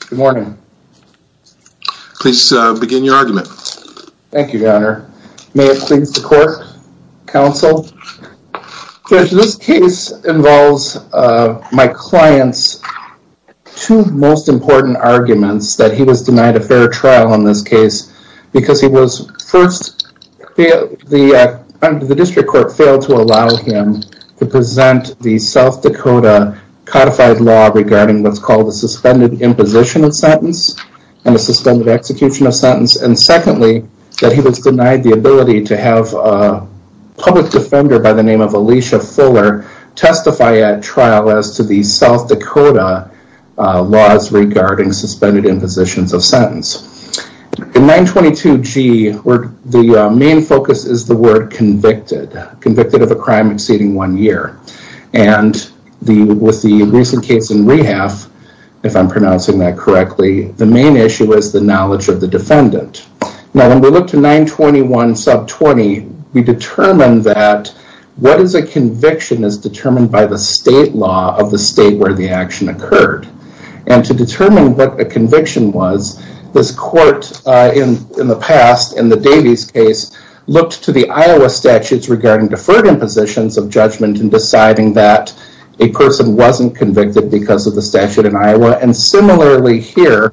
Good morning. Please begin your argument. Thank you, Your Honor. May it please the court, counsel. Judge, this case involves my client's two most important arguments that he was denied a fair trial in this case because he was first, the District Court failed to allow him to present the South Dakota codified law regarding what's called a suspended imposition of sentence and a suspended execution of sentence, and secondly, that he was denied the ability to have a public defender by the name of Alicia Fuller testify at trial as to the South Dakota laws regarding suspended impositions of sentence. In 922G, the main focus is the word convicted. Convicted of a crime exceeding one year, and with the recent case in rehalf, if I'm pronouncing that correctly, the main issue is the knowledge of the defendant. Now when we look to 921 sub 20, we determine that what is a conviction is determined by the state law of the state where the action occurred, and to determine what a conviction was, this court in the past, in the Davies case, looked to the Iowa statutes regarding deferred impositions of judgment in deciding that a person wasn't convicted because of the statute in Iowa, and similarly here,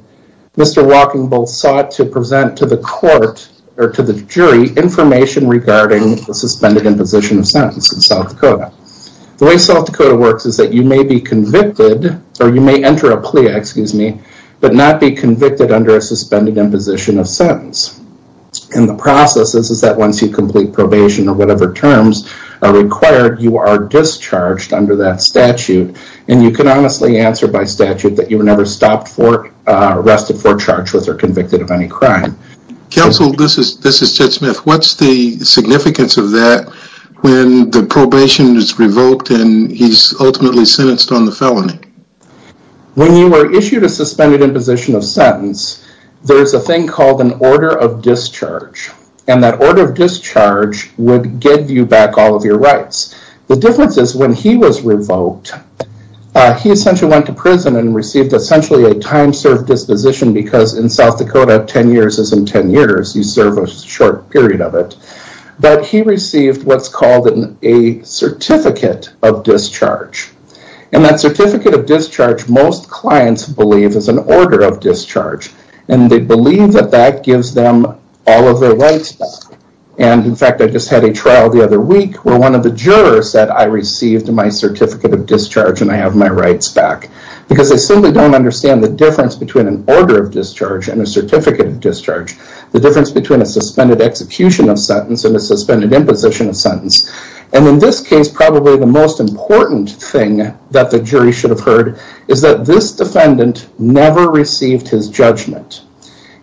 Mr. Walking Bull sought to present to the court or to the jury information regarding the suspended imposition of sentence in South Dakota. The way South Dakota works is that you may be convicted, or you may enter a plea, excuse me, but not be convicted under a suspended imposition of sentence, and the process is that once you complete probation or whatever terms are required, you are discharged under that statute, and you can honestly answer by statute that you were never stopped for, arrested for, charged with, or convicted of any crime. Counsel, this is Judge Smith, what's the significance of that when the probation is revoked and he's ultimately sentenced on the felony? When you were issued a suspended imposition of sentence, there's a thing called an order of discharge, and that order of discharge would give you back all of your rights. The difference is when he was revoked, he essentially went to prison and received essentially a time-served disposition because in South Dakota, ten years isn't ten years, you serve a short period of it, but he received what's called a certificate of discharge, and that certificate of discharge, most clients believe, is an order of discharge, and they believe that that gives them all of their rights back. And in fact, I just had a trial the other week where one of the jurors said, I received my certificate of discharge and I have my rights back, because they simply don't understand the difference between an order of discharge and a certificate of discharge, the difference between a suspended execution of sentence and a suspended imposition of sentence, and in this case, probably the most important thing that the jury should have heard is that this defendant never received his judgment.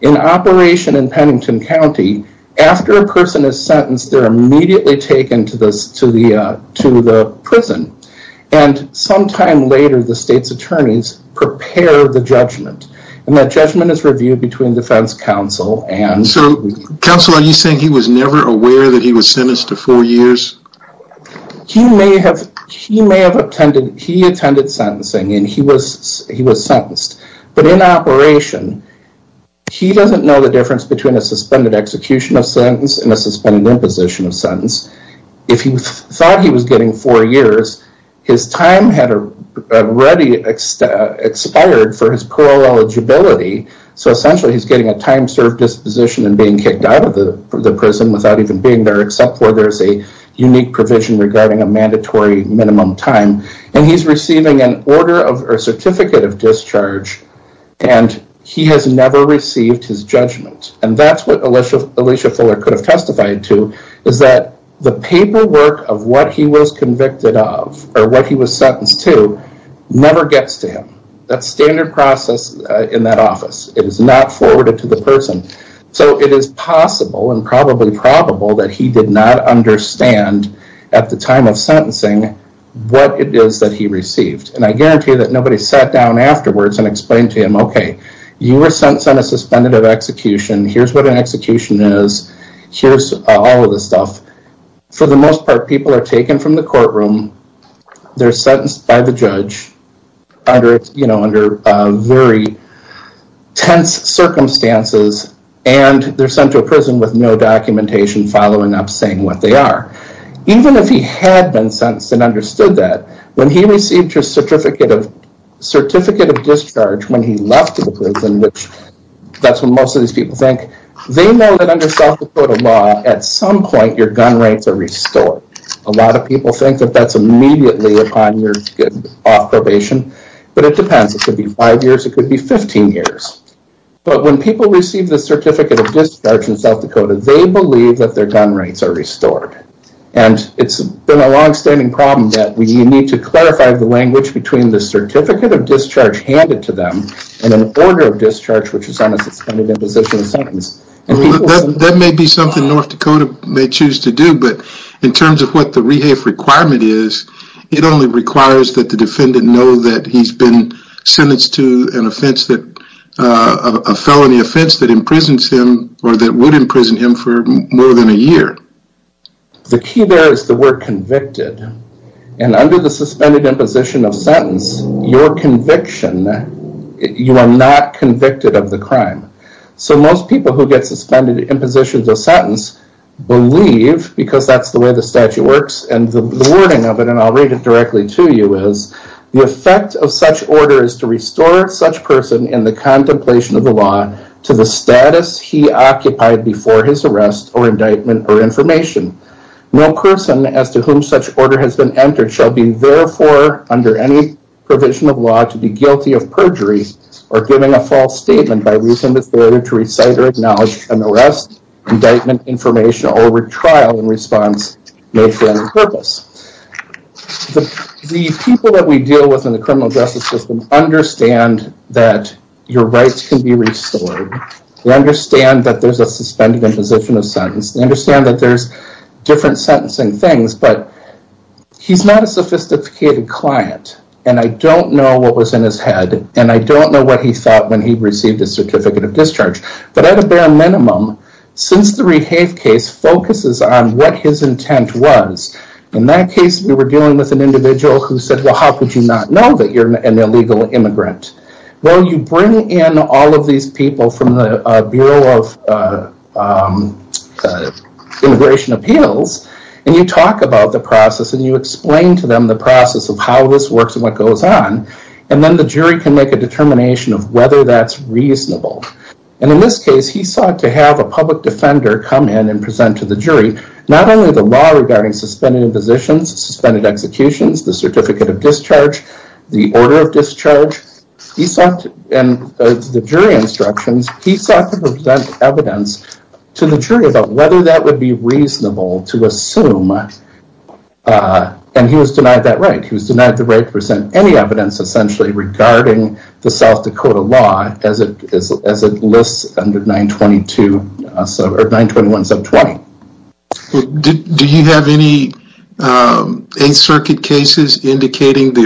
In operation in Pennington County, after a person is sentenced, they're immediately taken to the prison, and sometime later, the state's attorneys prepare the judgment, and that judgment is reviewed between defense counsel and... So counsel, are you saying he was never aware that he was sentenced to four years? He may have attended sentencing, and he was sentenced, but in operation, he doesn't know the suspended imposition of sentence. If he thought he was getting four years, his time had already expired for his parole eligibility, so essentially he's getting a time-served disposition and being kicked out of the prison without even being there, except for there's a unique provision regarding a mandatory minimum time, and he's receiving an order of a certificate of discharge, and he has never received his judgment, and that's what Alicia Fuller could have testified to, is that the paperwork of what he was convicted of, or what he was sentenced to, never gets to him. That's standard process in that office. It is not forwarded to the person, so it is possible, and probably probable, that he did not understand at the time of sentencing what it is that he received, and I guarantee that nobody sat down afterwards and explained to him, okay, you were sentenced on a suspended execution, here's what an execution is, here's all of this stuff. For the most part, people are taken from the courtroom, they're sentenced by the judge, under, you know, under very tense circumstances, and they're sent to a prison with no documentation following up saying what they are. Even if he had been sentenced and understood that, when he received his certificate of discharge, when he left the prison, which that's what most of these people think, they know that under South Dakota law, at some point, your gun rights are restored. A lot of people think that that's immediately upon your off probation, but it depends. It could be five years, it could be 15 years, but when people receive the certificate of discharge in South Dakota, they believe that their gun rights are restored, and it's been a long-standing problem that we need to clarify the language between the certificate of discharge handed to them, and an order of discharge which is on a suspended imposition of sentence. That may be something North Dakota may choose to do, but in terms of what the rehafe requirement is, it only requires that the defendant know that he's been sentenced to an offense that, a felony offense that imprisons him, or that would convicted. And under the suspended imposition of sentence, your conviction, you are not convicted of the crime. So most people who get suspended imposition of sentence believe, because that's the way the statute works, and the wording of it, and I'll read it directly to you, is the effect of such order is to restore such person in the contemplation of the law to the status he occupied before his The person to whom such order has been entered shall be, therefore, under any provision of law to be guilty of perjury or giving a false statement by reason of failure to recite or acknowledge an arrest, indictment, information, or retrial in response may fail the purpose. The people that we deal with in the criminal justice system understand that your rights can be restored. They understand that there's a suspended imposition of sentence. They understand that he's not a sophisticated client, and I don't know what was in his head, and I don't know what he thought when he received a certificate of discharge. But at a bare minimum, since the Rehave case focuses on what his intent was, in that case we were dealing with an individual who said, well, how could you not know that you're an illegal immigrant? Well, you bring in all of these people from the Bureau of Immigration Appeals, and you talk about the process, and you explain to them the process of how this works and what goes on, and then the jury can make a determination of whether that's reasonable. And in this case, he sought to have a public defender come in and present to the jury not only the law regarding suspended impositions, suspended executions, the certificate of discharge, the order of discharge, he sought to present evidence to the jury about whether that would be reasonable to assume, and he was denied that right. He was denied the right to present any evidence, essentially, regarding the South Dakota law as it lists under 921 sub 20. Do you have any 8th Circuit cases indicating the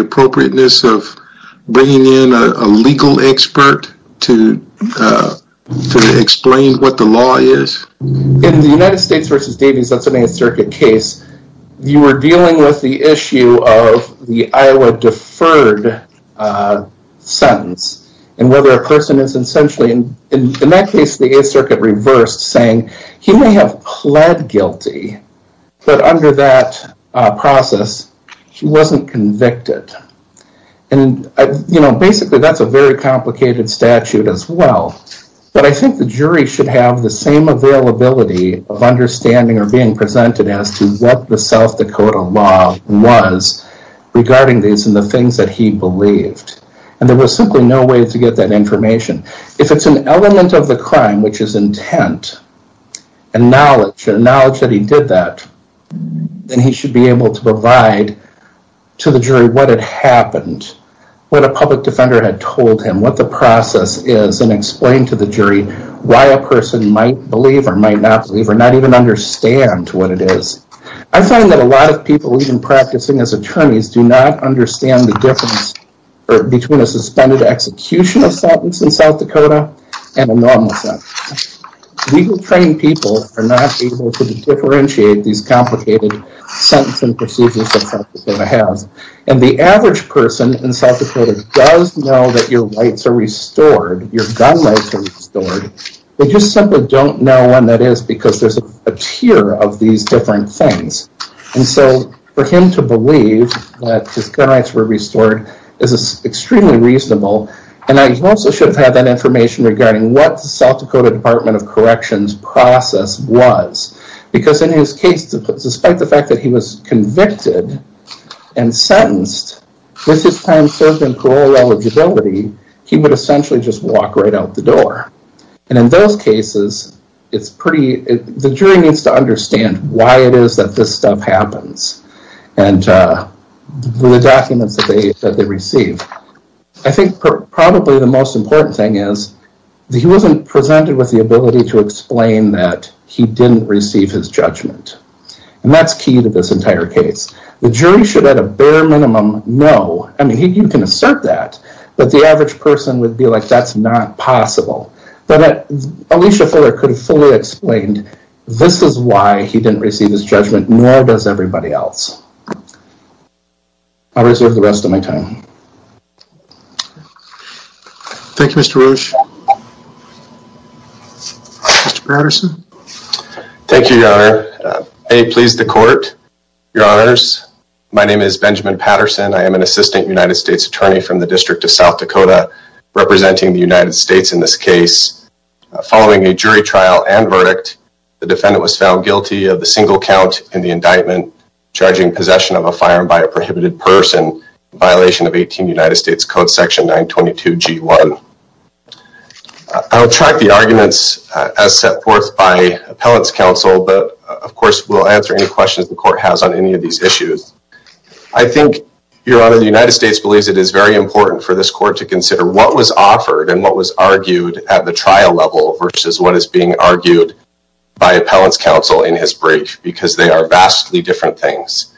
explain what the law is? In the United States versus Davies, that's an 8th Circuit case, you were dealing with the issue of the Iowa deferred sentence, and whether a person is essentially, in that case, the 8th Circuit reversed, saying he may have pled guilty, but under that process, he wasn't convicted. And, you know, that's a very complicated statute as well, but I think the jury should have the same availability of understanding or being presented as to what the South Dakota law was regarding these and the things that he believed. And there was simply no way to get that information. If it's an element of the crime which is intent and knowledge, and knowledge that he did that, then he should be able to explain to the jury why a person might believe or might not believe or not even understand what it is. I find that a lot of people even practicing as attorneys do not understand the difference between a suspended execution of sentence in South Dakota and a normal sentence. Legal trained people are not able to differentiate these complicated sentences and procedures that South Dakota has, and the average person in South Dakota is not able to tell you that your rights are restored, your gun rights are restored, they just simply don't know when that is because there's a tier of these different things. And so for him to believe that his gun rights were restored is extremely reasonable, and I also should have had that information regarding what the South Dakota Department of Corrections process was, because in his case, despite the fact that he was convicted and sentenced, with his time serving parole eligibility, he would essentially just walk right out the door. And in those cases, it's pretty, the jury needs to understand why it is that this stuff happens, and the documents that they receive. I think probably the most important thing is that he wasn't presented with the ability to explain that he didn't receive his judgment. And that's key to this entire case. The jury should, at a bare minimum, know, I mean, you can assert that, but the average person would be like, that's not possible. But Alicia Fuller could have fully explained, this is why he didn't receive his judgment, nor does everybody else. I'll reserve the rest of my time. Thank you, Mr. Roche. Mr. Patterson. Thank you, Your Honor. May it please the court. Your Honors, my name is Benjamin Patterson. I am an assistant United States attorney from the District of South Dakota, representing the United States in this case. Following a jury trial and verdict, the defendant was found guilty of the single count in the indictment, charging possession of a firearm by a prohibited person, in violation of 18 United States Code section 922 G1. I will track the arguments as set forth by appellant's counsel, but of course, we'll answer any questions the court has on any of these issues. I think, Your Honor, the United States believes it is very important for this court to consider what was offered and what was argued at the trial level versus what is being argued by appellant's counsel in his brief, because they are vastly different things.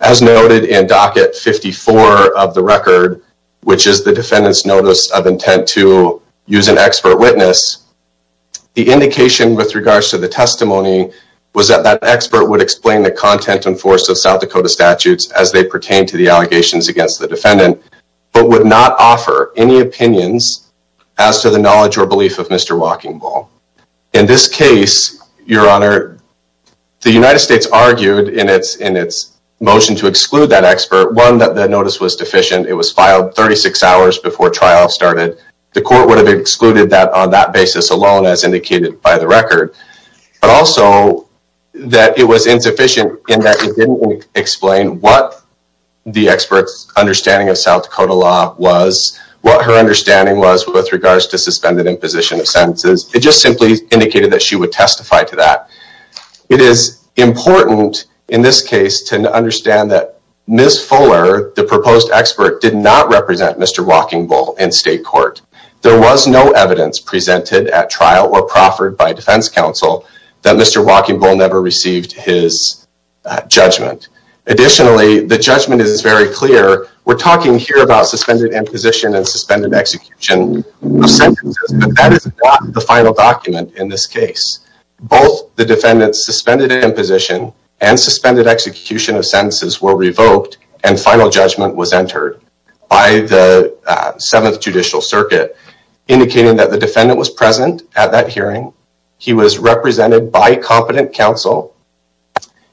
As noted in Docket 54 of the record, which is the defendant's notice of intent to use an expert witness, the indication with regards to the testimony was that that expert would explain the content and force of South Dakota statutes as they pertain to the allegations against the defendant, but would not offer any opinions as to the knowledge or belief of Mr. Walking Bull. In this case, Your Honor, the United States argued in its motion to exclude that expert, one, that the notice was deficient. It was filed 36 hours before trial started. The court would have excluded that on that basis alone as indicated by the record, but also that it was insufficient in that it didn't explain what the expert's understanding of South Dakota law was, what her understanding was with regards to suspended imposition of sentences. It simply indicated that she would testify to that. It is important in this case to understand that Ms. Fuller, the proposed expert, did not represent Mr. Walking Bull in state court. There was no evidence presented at trial or proffered by defense counsel that Mr. Walking Bull never received his judgment. Additionally, the judgment is very clear. We're talking here about suspended imposition and suspended execution of sentences, but that is not the final document in this case. Both the defendant's suspended imposition and suspended execution of sentences were revoked and final judgment was entered by the Seventh Judicial Circuit, indicating that the defendant was present at that hearing. He was represented by competent counsel,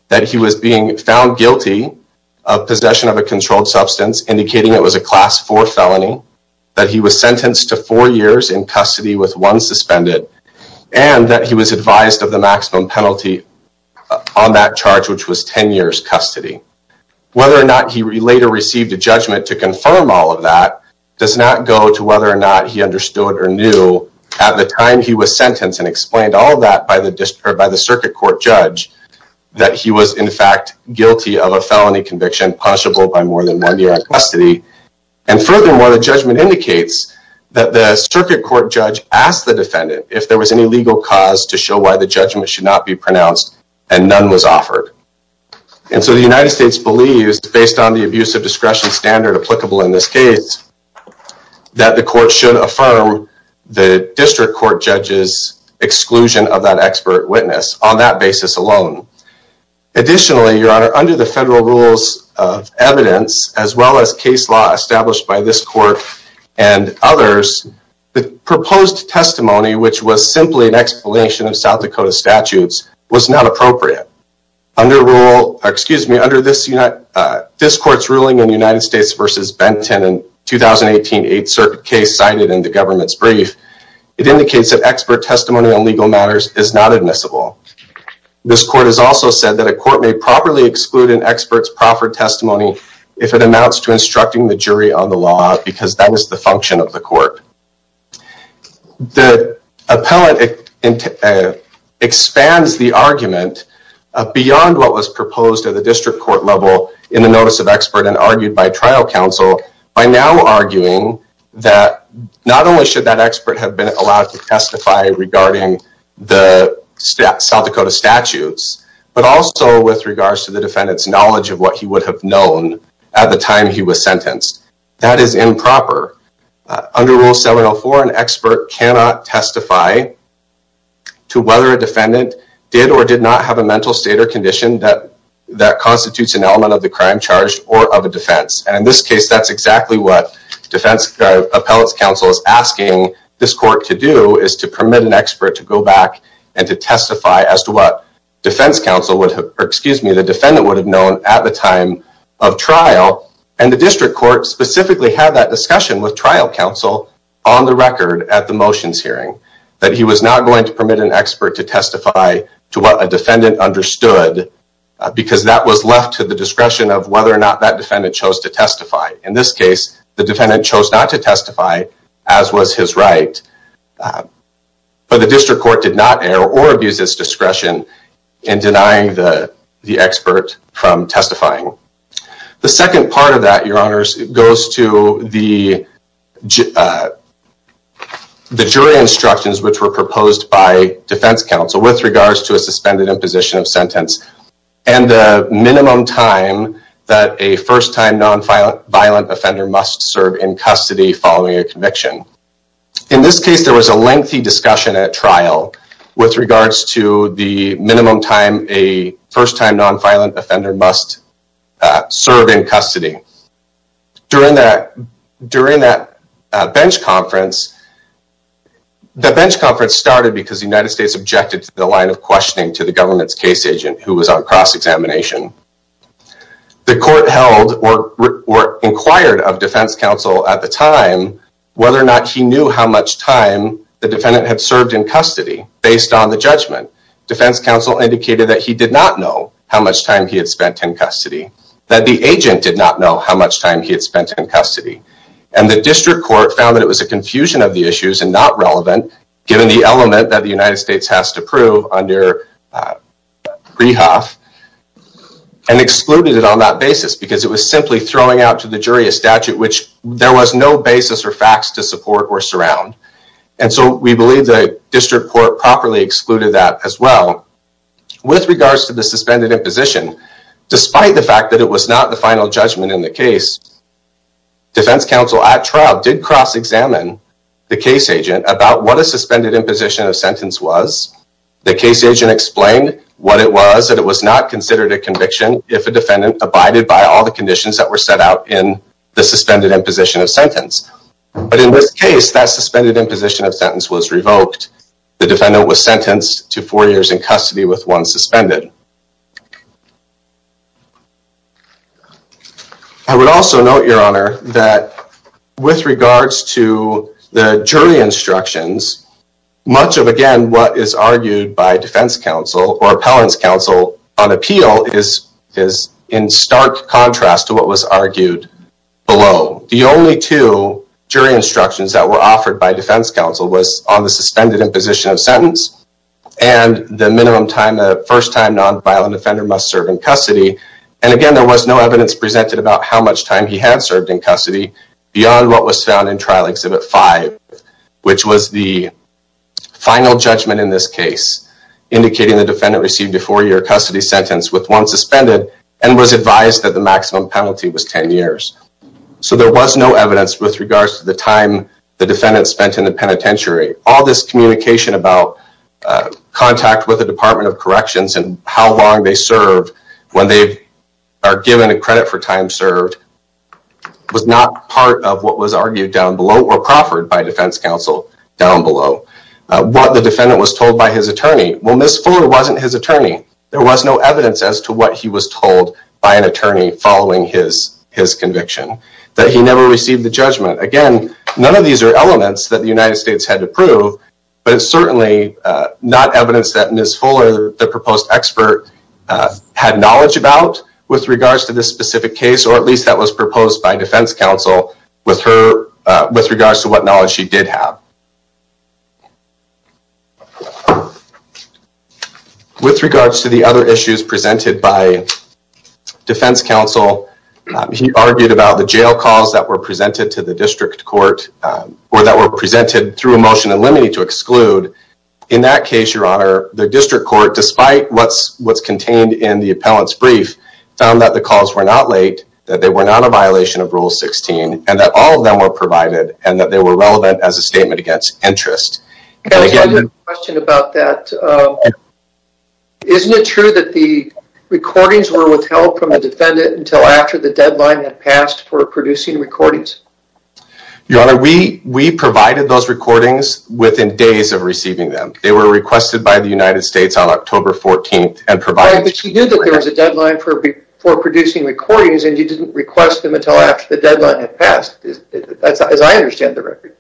that he was being found guilty of possession of a controlled substance, indicating it was a Class 4 felony, that he was sentenced to four years in custody with one suspended, and that he was advised of the maximum penalty on that charge, which was 10 years custody. Whether or not he later received a judgment to confirm all of that does not go to whether or not he understood or knew at the time he was sentenced and explained all of that by the circuit court judge, that he was in fact guilty of a felony conviction, punishable by more than one year in custody. And furthermore, the judgment indicates that the circuit court judge asked the defendant if there was any legal cause to show why the judgment should not be pronounced, and none was offered. And so the United States believes, based on the abuse of discretion standard applicable in this case, that the court should affirm the district court judge's exclusion of that expert witness on that basis alone. Additionally, your honor, under the federal rules of evidence, as well as case law established by this court and others, the proposed testimony, which was simply an explanation of South Dakota statutes, was not appropriate. Under this court's ruling in United States v. Benton in 2018, a certain case cited in the government's brief, it indicates that expert testimony on legal matters is not admissible. This court has also said that a court may properly exclude an expert's proffered testimony if it amounts to instructing the jury on the law, because that is the function of the court. The appellant expands the argument beyond what was proposed at the district court level in the notice of expert and argued by trial counsel by now arguing that not only should that expert have been allowed to testify regarding the South Dakota statutes, but also with regards to the defendant's knowledge of what he would have known at the time he was sentenced. That is improper. Under Rule 704, an expert cannot testify to whether a defendant did or did not have a mental state or condition that constitutes an element of the crime charged or of a defense. And in this case, that's exactly what defense appellate's counsel is asking this court to do is to permit an expert to go back and to testify as to what defense counsel would have, excuse me, the defendant would have known at the time of trial. And the district court specifically had that discussion with trial counsel on the record at the motions hearing that he was not going to permit an expert to testify to what a defendant understood because that was left to the discretion of whether or not that defendant chose to testify. In this case, the defendant chose not to testify, as was his right. But the district court did not err or abuse its discretion in denying the expert from testifying. The second part of that, Your Honors, goes to the jury instructions which were proposed by defense counsel with regards to a suspended imposition of sentence and the minimum time that a first-time non-violent offender must serve in custody following a conviction. In this case, there was a lengthy discussion at trial with regards to the minimum time a first-time non-violent offender must serve in custody. During that bench conference, the bench conference started because the United States objected to the line of questioning to the government's case agent who was on cross-examination. The court held or inquired of defense counsel at the time whether or not he knew how much time the defendant had served in custody based on the judgment. Defense counsel indicated that he did not know how much time he had spent in custody, that the agent did not know how much time he had spent in custody. The district court found that it was a confusion of the issues and not relevant given the element that the United States has to prove under Prehoff and excluded it on that basis because it was simply throwing out to the jury a statute which there was no basis or facts to support or surround. We believe the district court properly excluded that as well. With regards to the suspended imposition, despite the fact that it was not the final judgment in the case, defense counsel at trial did cross-examine the case agent about what a suspended imposition of sentence was. The case agent explained what it was, that it was not considered a conviction if a defendant abided by all the conditions that were set out in the suspended imposition of sentence. But in this case, that suspended imposition of sentence was revoked. The defendant was sentenced to four years in custody with one suspended. I would also note, your honor, that with regards to the jury instructions, much of again what is argued by defense counsel or appellant's counsel on appeal is in stark contrast to what was argued below. The only two jury instructions that were offered by defense counsel was on the suspended imposition of sentence and the minimum time a first-time nonviolent offender must serve in custody. And again, there was no evidence presented about how much time he had served in custody beyond what was found in trial exhibit five, which was the final judgment in this case, indicating the defendant received a four-year custody sentence with one suspended and was advised that the maximum penalty was ten years. So there was no evidence with regards to the time the defendant spent in the penitentiary. All this communication about contact with the Department of Corrections and how long they served when they are given a credit for time served was not part of what was argued down below or proffered by defense counsel down below. What the defendant was told by his attorney. Well, Ms. Fuller wasn't his attorney. There was no evidence as to what he was told by an attorney following his conviction. That he never received the judgment. Again, none of these are elements that the United States had to prove, but it's certainly not evidence that Ms. Fuller, the proposed expert, had knowledge about with regards to this specific case or at least that was proposed by defense counsel with regards to what knowledge she did have. With regards to the other issues presented by defense counsel, he argued about the jail calls that were presented to the district court or that were presented through a motion in limine to exclude. In that case, your honor, the district court, despite what's contained in the appellant's brief, found that the calls were not late, that they were not a violation of Rule 16, and that all of them were provided and that they were relevant as a statement against interest. I have a question about that. Isn't it true that the recordings were withheld from the defendant until after the deadline had passed for producing recordings? Your honor, we provided those recordings within days of receiving them. They were requested by the United States on October 14th. But you knew that there was a deadline for producing recordings and you didn't request them until after the deadline had passed, as I understand the record.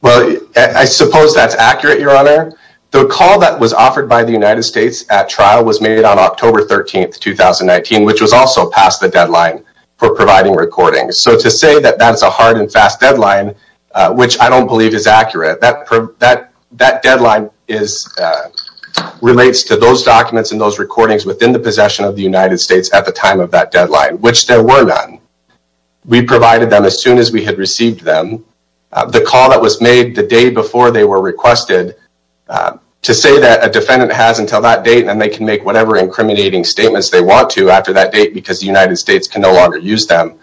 Well, I suppose that's accurate, your honor. The call that was offered by the United States at trial was made on October 13th, 2019, which was also past the deadline for providing recordings. So to say that that's a hard and fast deadline, which I don't believe is accurate, that deadline relates to those documents and those recordings within the possession of the United States at the time of that deadline, which there were none. We provided them as soon as we had received them. The call that was made the day before they were requested, to say that a defendant has until that date and they can make whatever incriminating statements they want to after that date because the United States can no longer use them,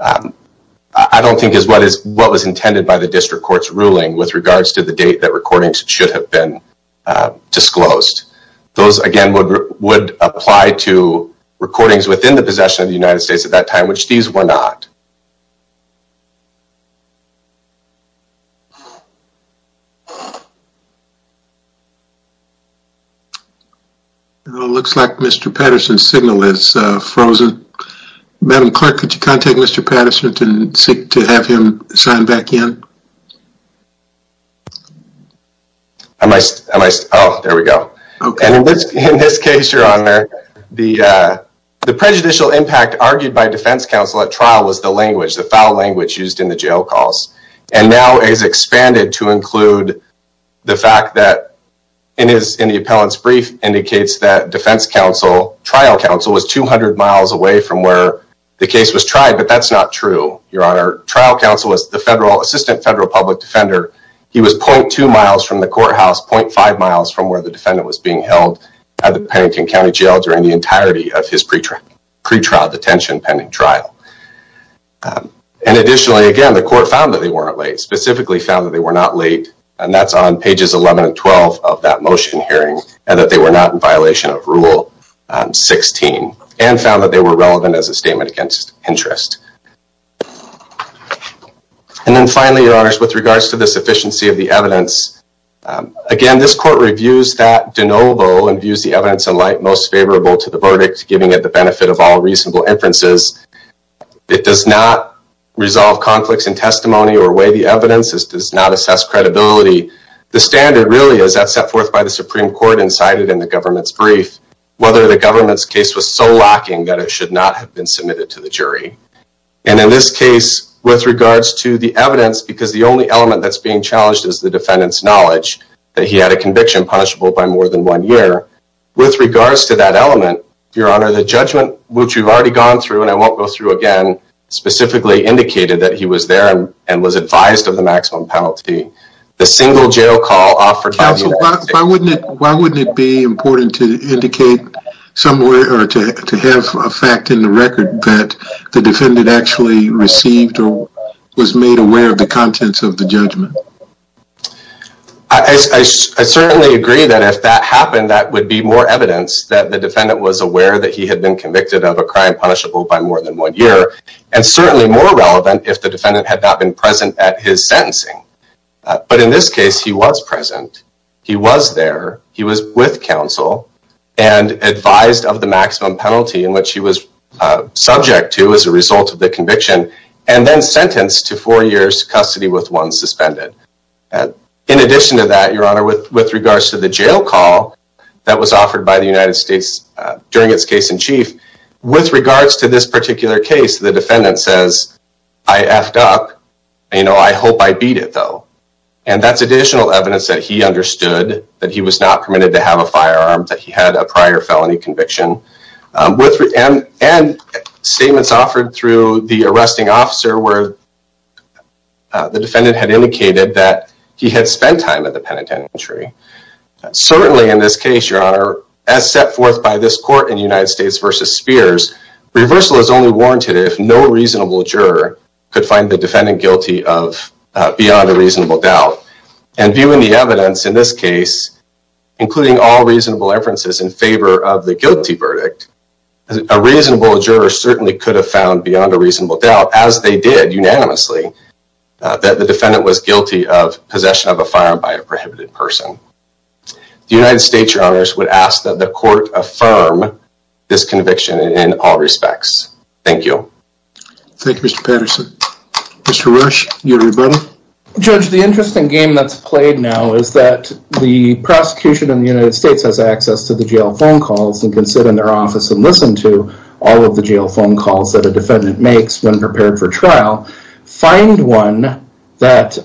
I don't think is what was intended by the district court's ruling with regards to the date that recordings should have been disclosed. Those, again, would apply to recordings within the possession of the United States at that time, which these were not. It looks like Mr. Patterson's signal is frozen. Madam Clerk, could you contact Mr. Patterson to have him sign back in? Oh, there we go. In this case, Your Honor, the prejudicial impact argued by defense counsel at trial was the language, the foul language used in the jail calls. And now it is expanded to include the fact that in the appellant's brief indicates that defense counsel, trial counsel was 200 miles away from where the case was tried, but that's not true. Your Honor, trial counsel was the assistant federal public defender. He was 0.2 miles from the courthouse, 0.5 miles from where the defendant was being held at the Pennington County Jail during the entirety of his pretrial detention pending trial. And additionally, again, the court found that they weren't late, specifically found that they were not late, and that's on pages 11 and 12 of that motion hearing, and that they were not in violation of Rule 16, and found that they were relevant as a statement against interest. And then finally, Your Honors, with regards to the sufficiency of the evidence, again, this court reviews that de novo and views the evidence in light most favorable to the verdict, giving it the benefit of all reasonable inferences. It does not resolve conflicts in testimony or weigh the evidence. This does not assess credibility. The standard really is that set forth by the Supreme Court incited in the government's brief, whether the government's case was so lacking that it should not have been submitted to the jury. And in this case, with regards to the evidence, because the only element that's being challenged is the defendant's knowledge that he had a conviction punishable by more than one year. With regards to that element, Your Honor, the judgment, which we've already gone through and I won't go through again, specifically indicated that he was there and was advised of the maximum penalty. The single jail call offered... Why wouldn't it be important to indicate somewhere or to have a fact in the record that the defendant actually received or was made aware of the contents of the judgment? I certainly agree that if that happened, that would be more evidence that the defendant was aware that he had been convicted of a crime punishable by more than one year. And certainly more relevant if the defendant had not been present at his sentencing. But in this case, he was present. He was there. He was with counsel and advised of the maximum penalty in which he was subject to as a result of the conviction and then sentenced to four years custody with one suspended. In addition to that, Your Honor, with regards to the jail call that was offered by the United States during its case in chief, with regards to this particular case, the defendant says, I effed up. You know, I hope I beat it, though. And that's additional evidence that he understood that he was not permitted to have a firearm, that he had a prior felony conviction. And statements offered through the arresting officer where the defendant had indicated that he had spent time at the penitentiary. Certainly in this case, Your Honor, as set forth by this court in United States versus Spears, reversal is only warranted if no reasonable juror could find the defendant guilty of beyond a reasonable doubt. And viewing the evidence in this case, including all reasonable inferences in favor of the guilty verdict, a reasonable juror certainly could have found beyond a reasonable doubt, as they did unanimously, that the defendant was guilty of possession of a firearm by a prohibited person. The United States, Your Honor, would ask that the court affirm this conviction in all respects. Thank you. Thank you, Mr. Patterson. Mr. Rush, you have your button. Judge, the interesting game that's played now is that the prosecution in the United States has access to the jail phone calls and can sit in their office and listen to all of the jail phone calls that a defendant makes when prepared for trial, find one that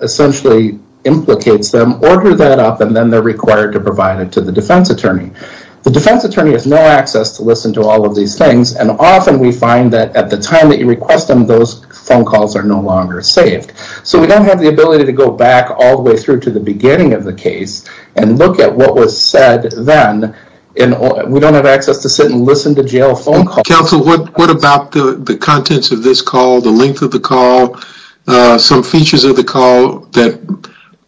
essentially implicates them, order that up, and then they're required to provide it to the defense attorney. The defense attorney has no access to listen to all of these things, and often we find that at the time that you request them, those phone calls are no longer saved. So we don't have the ability to go back all the way through to the beginning of the case and look at what was said then, and we don't have access to sit and listen to jail phone calls. Counsel, what about the contents of this call, the length of the call, some features of the call that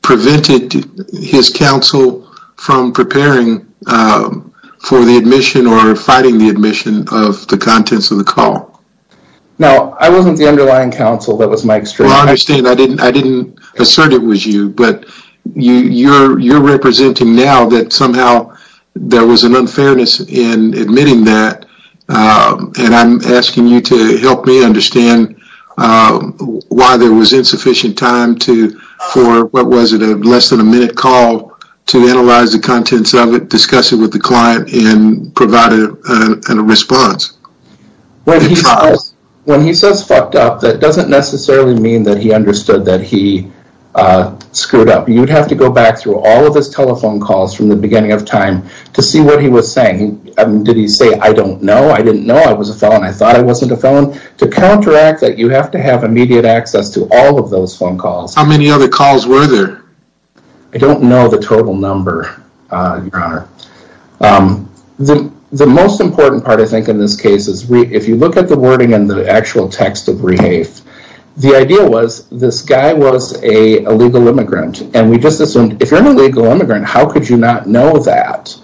prevented his counsel from preparing for the admission or fighting the admission of the contents of the call? Now, I wasn't the underlying counsel, that was my experience. Well, I understand, I didn't assert it was you, but you're representing now that somehow there was an unfairness in admitting that, and I'm asking you to help me understand why there was insufficient time for, what was it, a less than a minute call to analyze the contents of it, discuss it with the client, and provide a response. When he says fucked up, that doesn't necessarily mean that he understood that he screwed up. You'd have to go back through all of his telephone calls from the beginning of time to see what he was saying. Did he say, I don't know, I didn't know I was a felon, I thought I wasn't a felon? To counteract that, you have to have immediate access to all of those phone calls. How many other calls were there? I don't know the total number, your honor. The most important part, I think, in this case is if you look at the wording in the actual text of Rehafe, the idea was this guy was a legal immigrant, and we just assumed, if you're an illegal immigrant, how could you not know that?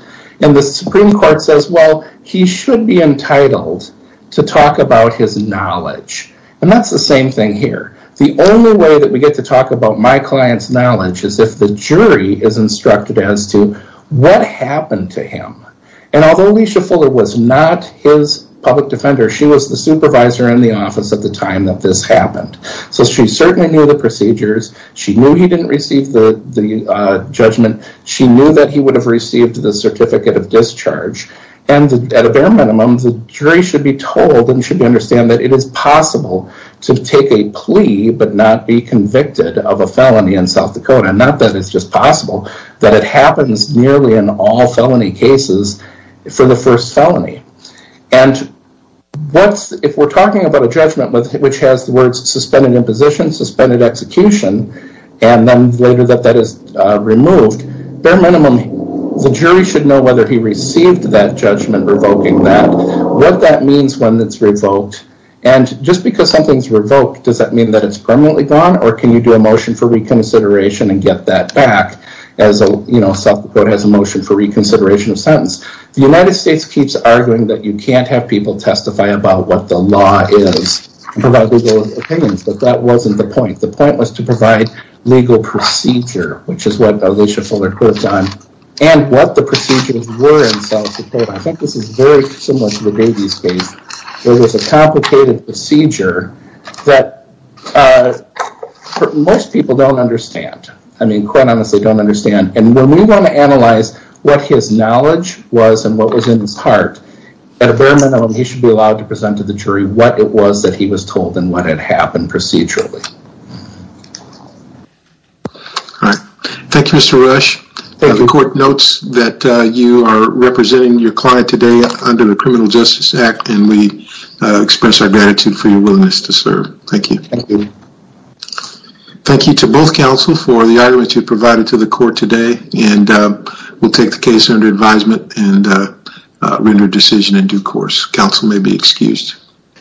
And the Supreme Court says, well, he should be entitled to talk about his knowledge. And that's the same thing here. The only way that we get to talk about my client's knowledge is if the jury is instructed as to what happened to him. And although Alicia Fuller was not his public defender, she was the supervisor in the office at the time that this happened. So she certainly knew the procedures. She knew he didn't receive the judgment. She knew that he would have received the certificate of discharge. And at a bare minimum, the jury should be told and should understand that it is possible to take a plea but not be convicted of a felony in South Dakota. Not that it's just possible, that it happens nearly in all felony cases for the first felony. And if we're talking about a judgment which has the words suspended imposition, suspended execution, and then later that that is removed, bare minimum, the jury should know whether he received that judgment revoking that, what that means when it's revoked. And just because something's revoked, does that mean that it's permanently gone? Or can you do a motion for reconsideration and get that back as South Dakota has a motion for reconsideration of sentence? The United States keeps arguing that you can't have people testify about what the law is to provide legal opinions. But that wasn't the point. The point was to provide legal procedure, which is what Alicia Fuller quotes on, and what the procedures were in South Dakota. I think this is very similar to the Davies case. There was a complicated procedure that most people don't understand. I mean, quite honestly, don't understand. And when we want to analyze what his knowledge was and what was in his heart, at a bare minimum, he should be allowed to present to the jury what it was that he was told and what had happened procedurally. All right. Thank you, Mr. Rush. The court notes that you are representing your client today under the Criminal Justice Act, and we express our gratitude for your willingness to serve. Thank you. Thank you to both counsel for the arguments you provided to the court today, and we'll take the case under advisement and render a decision in due course. Counsel may be excused.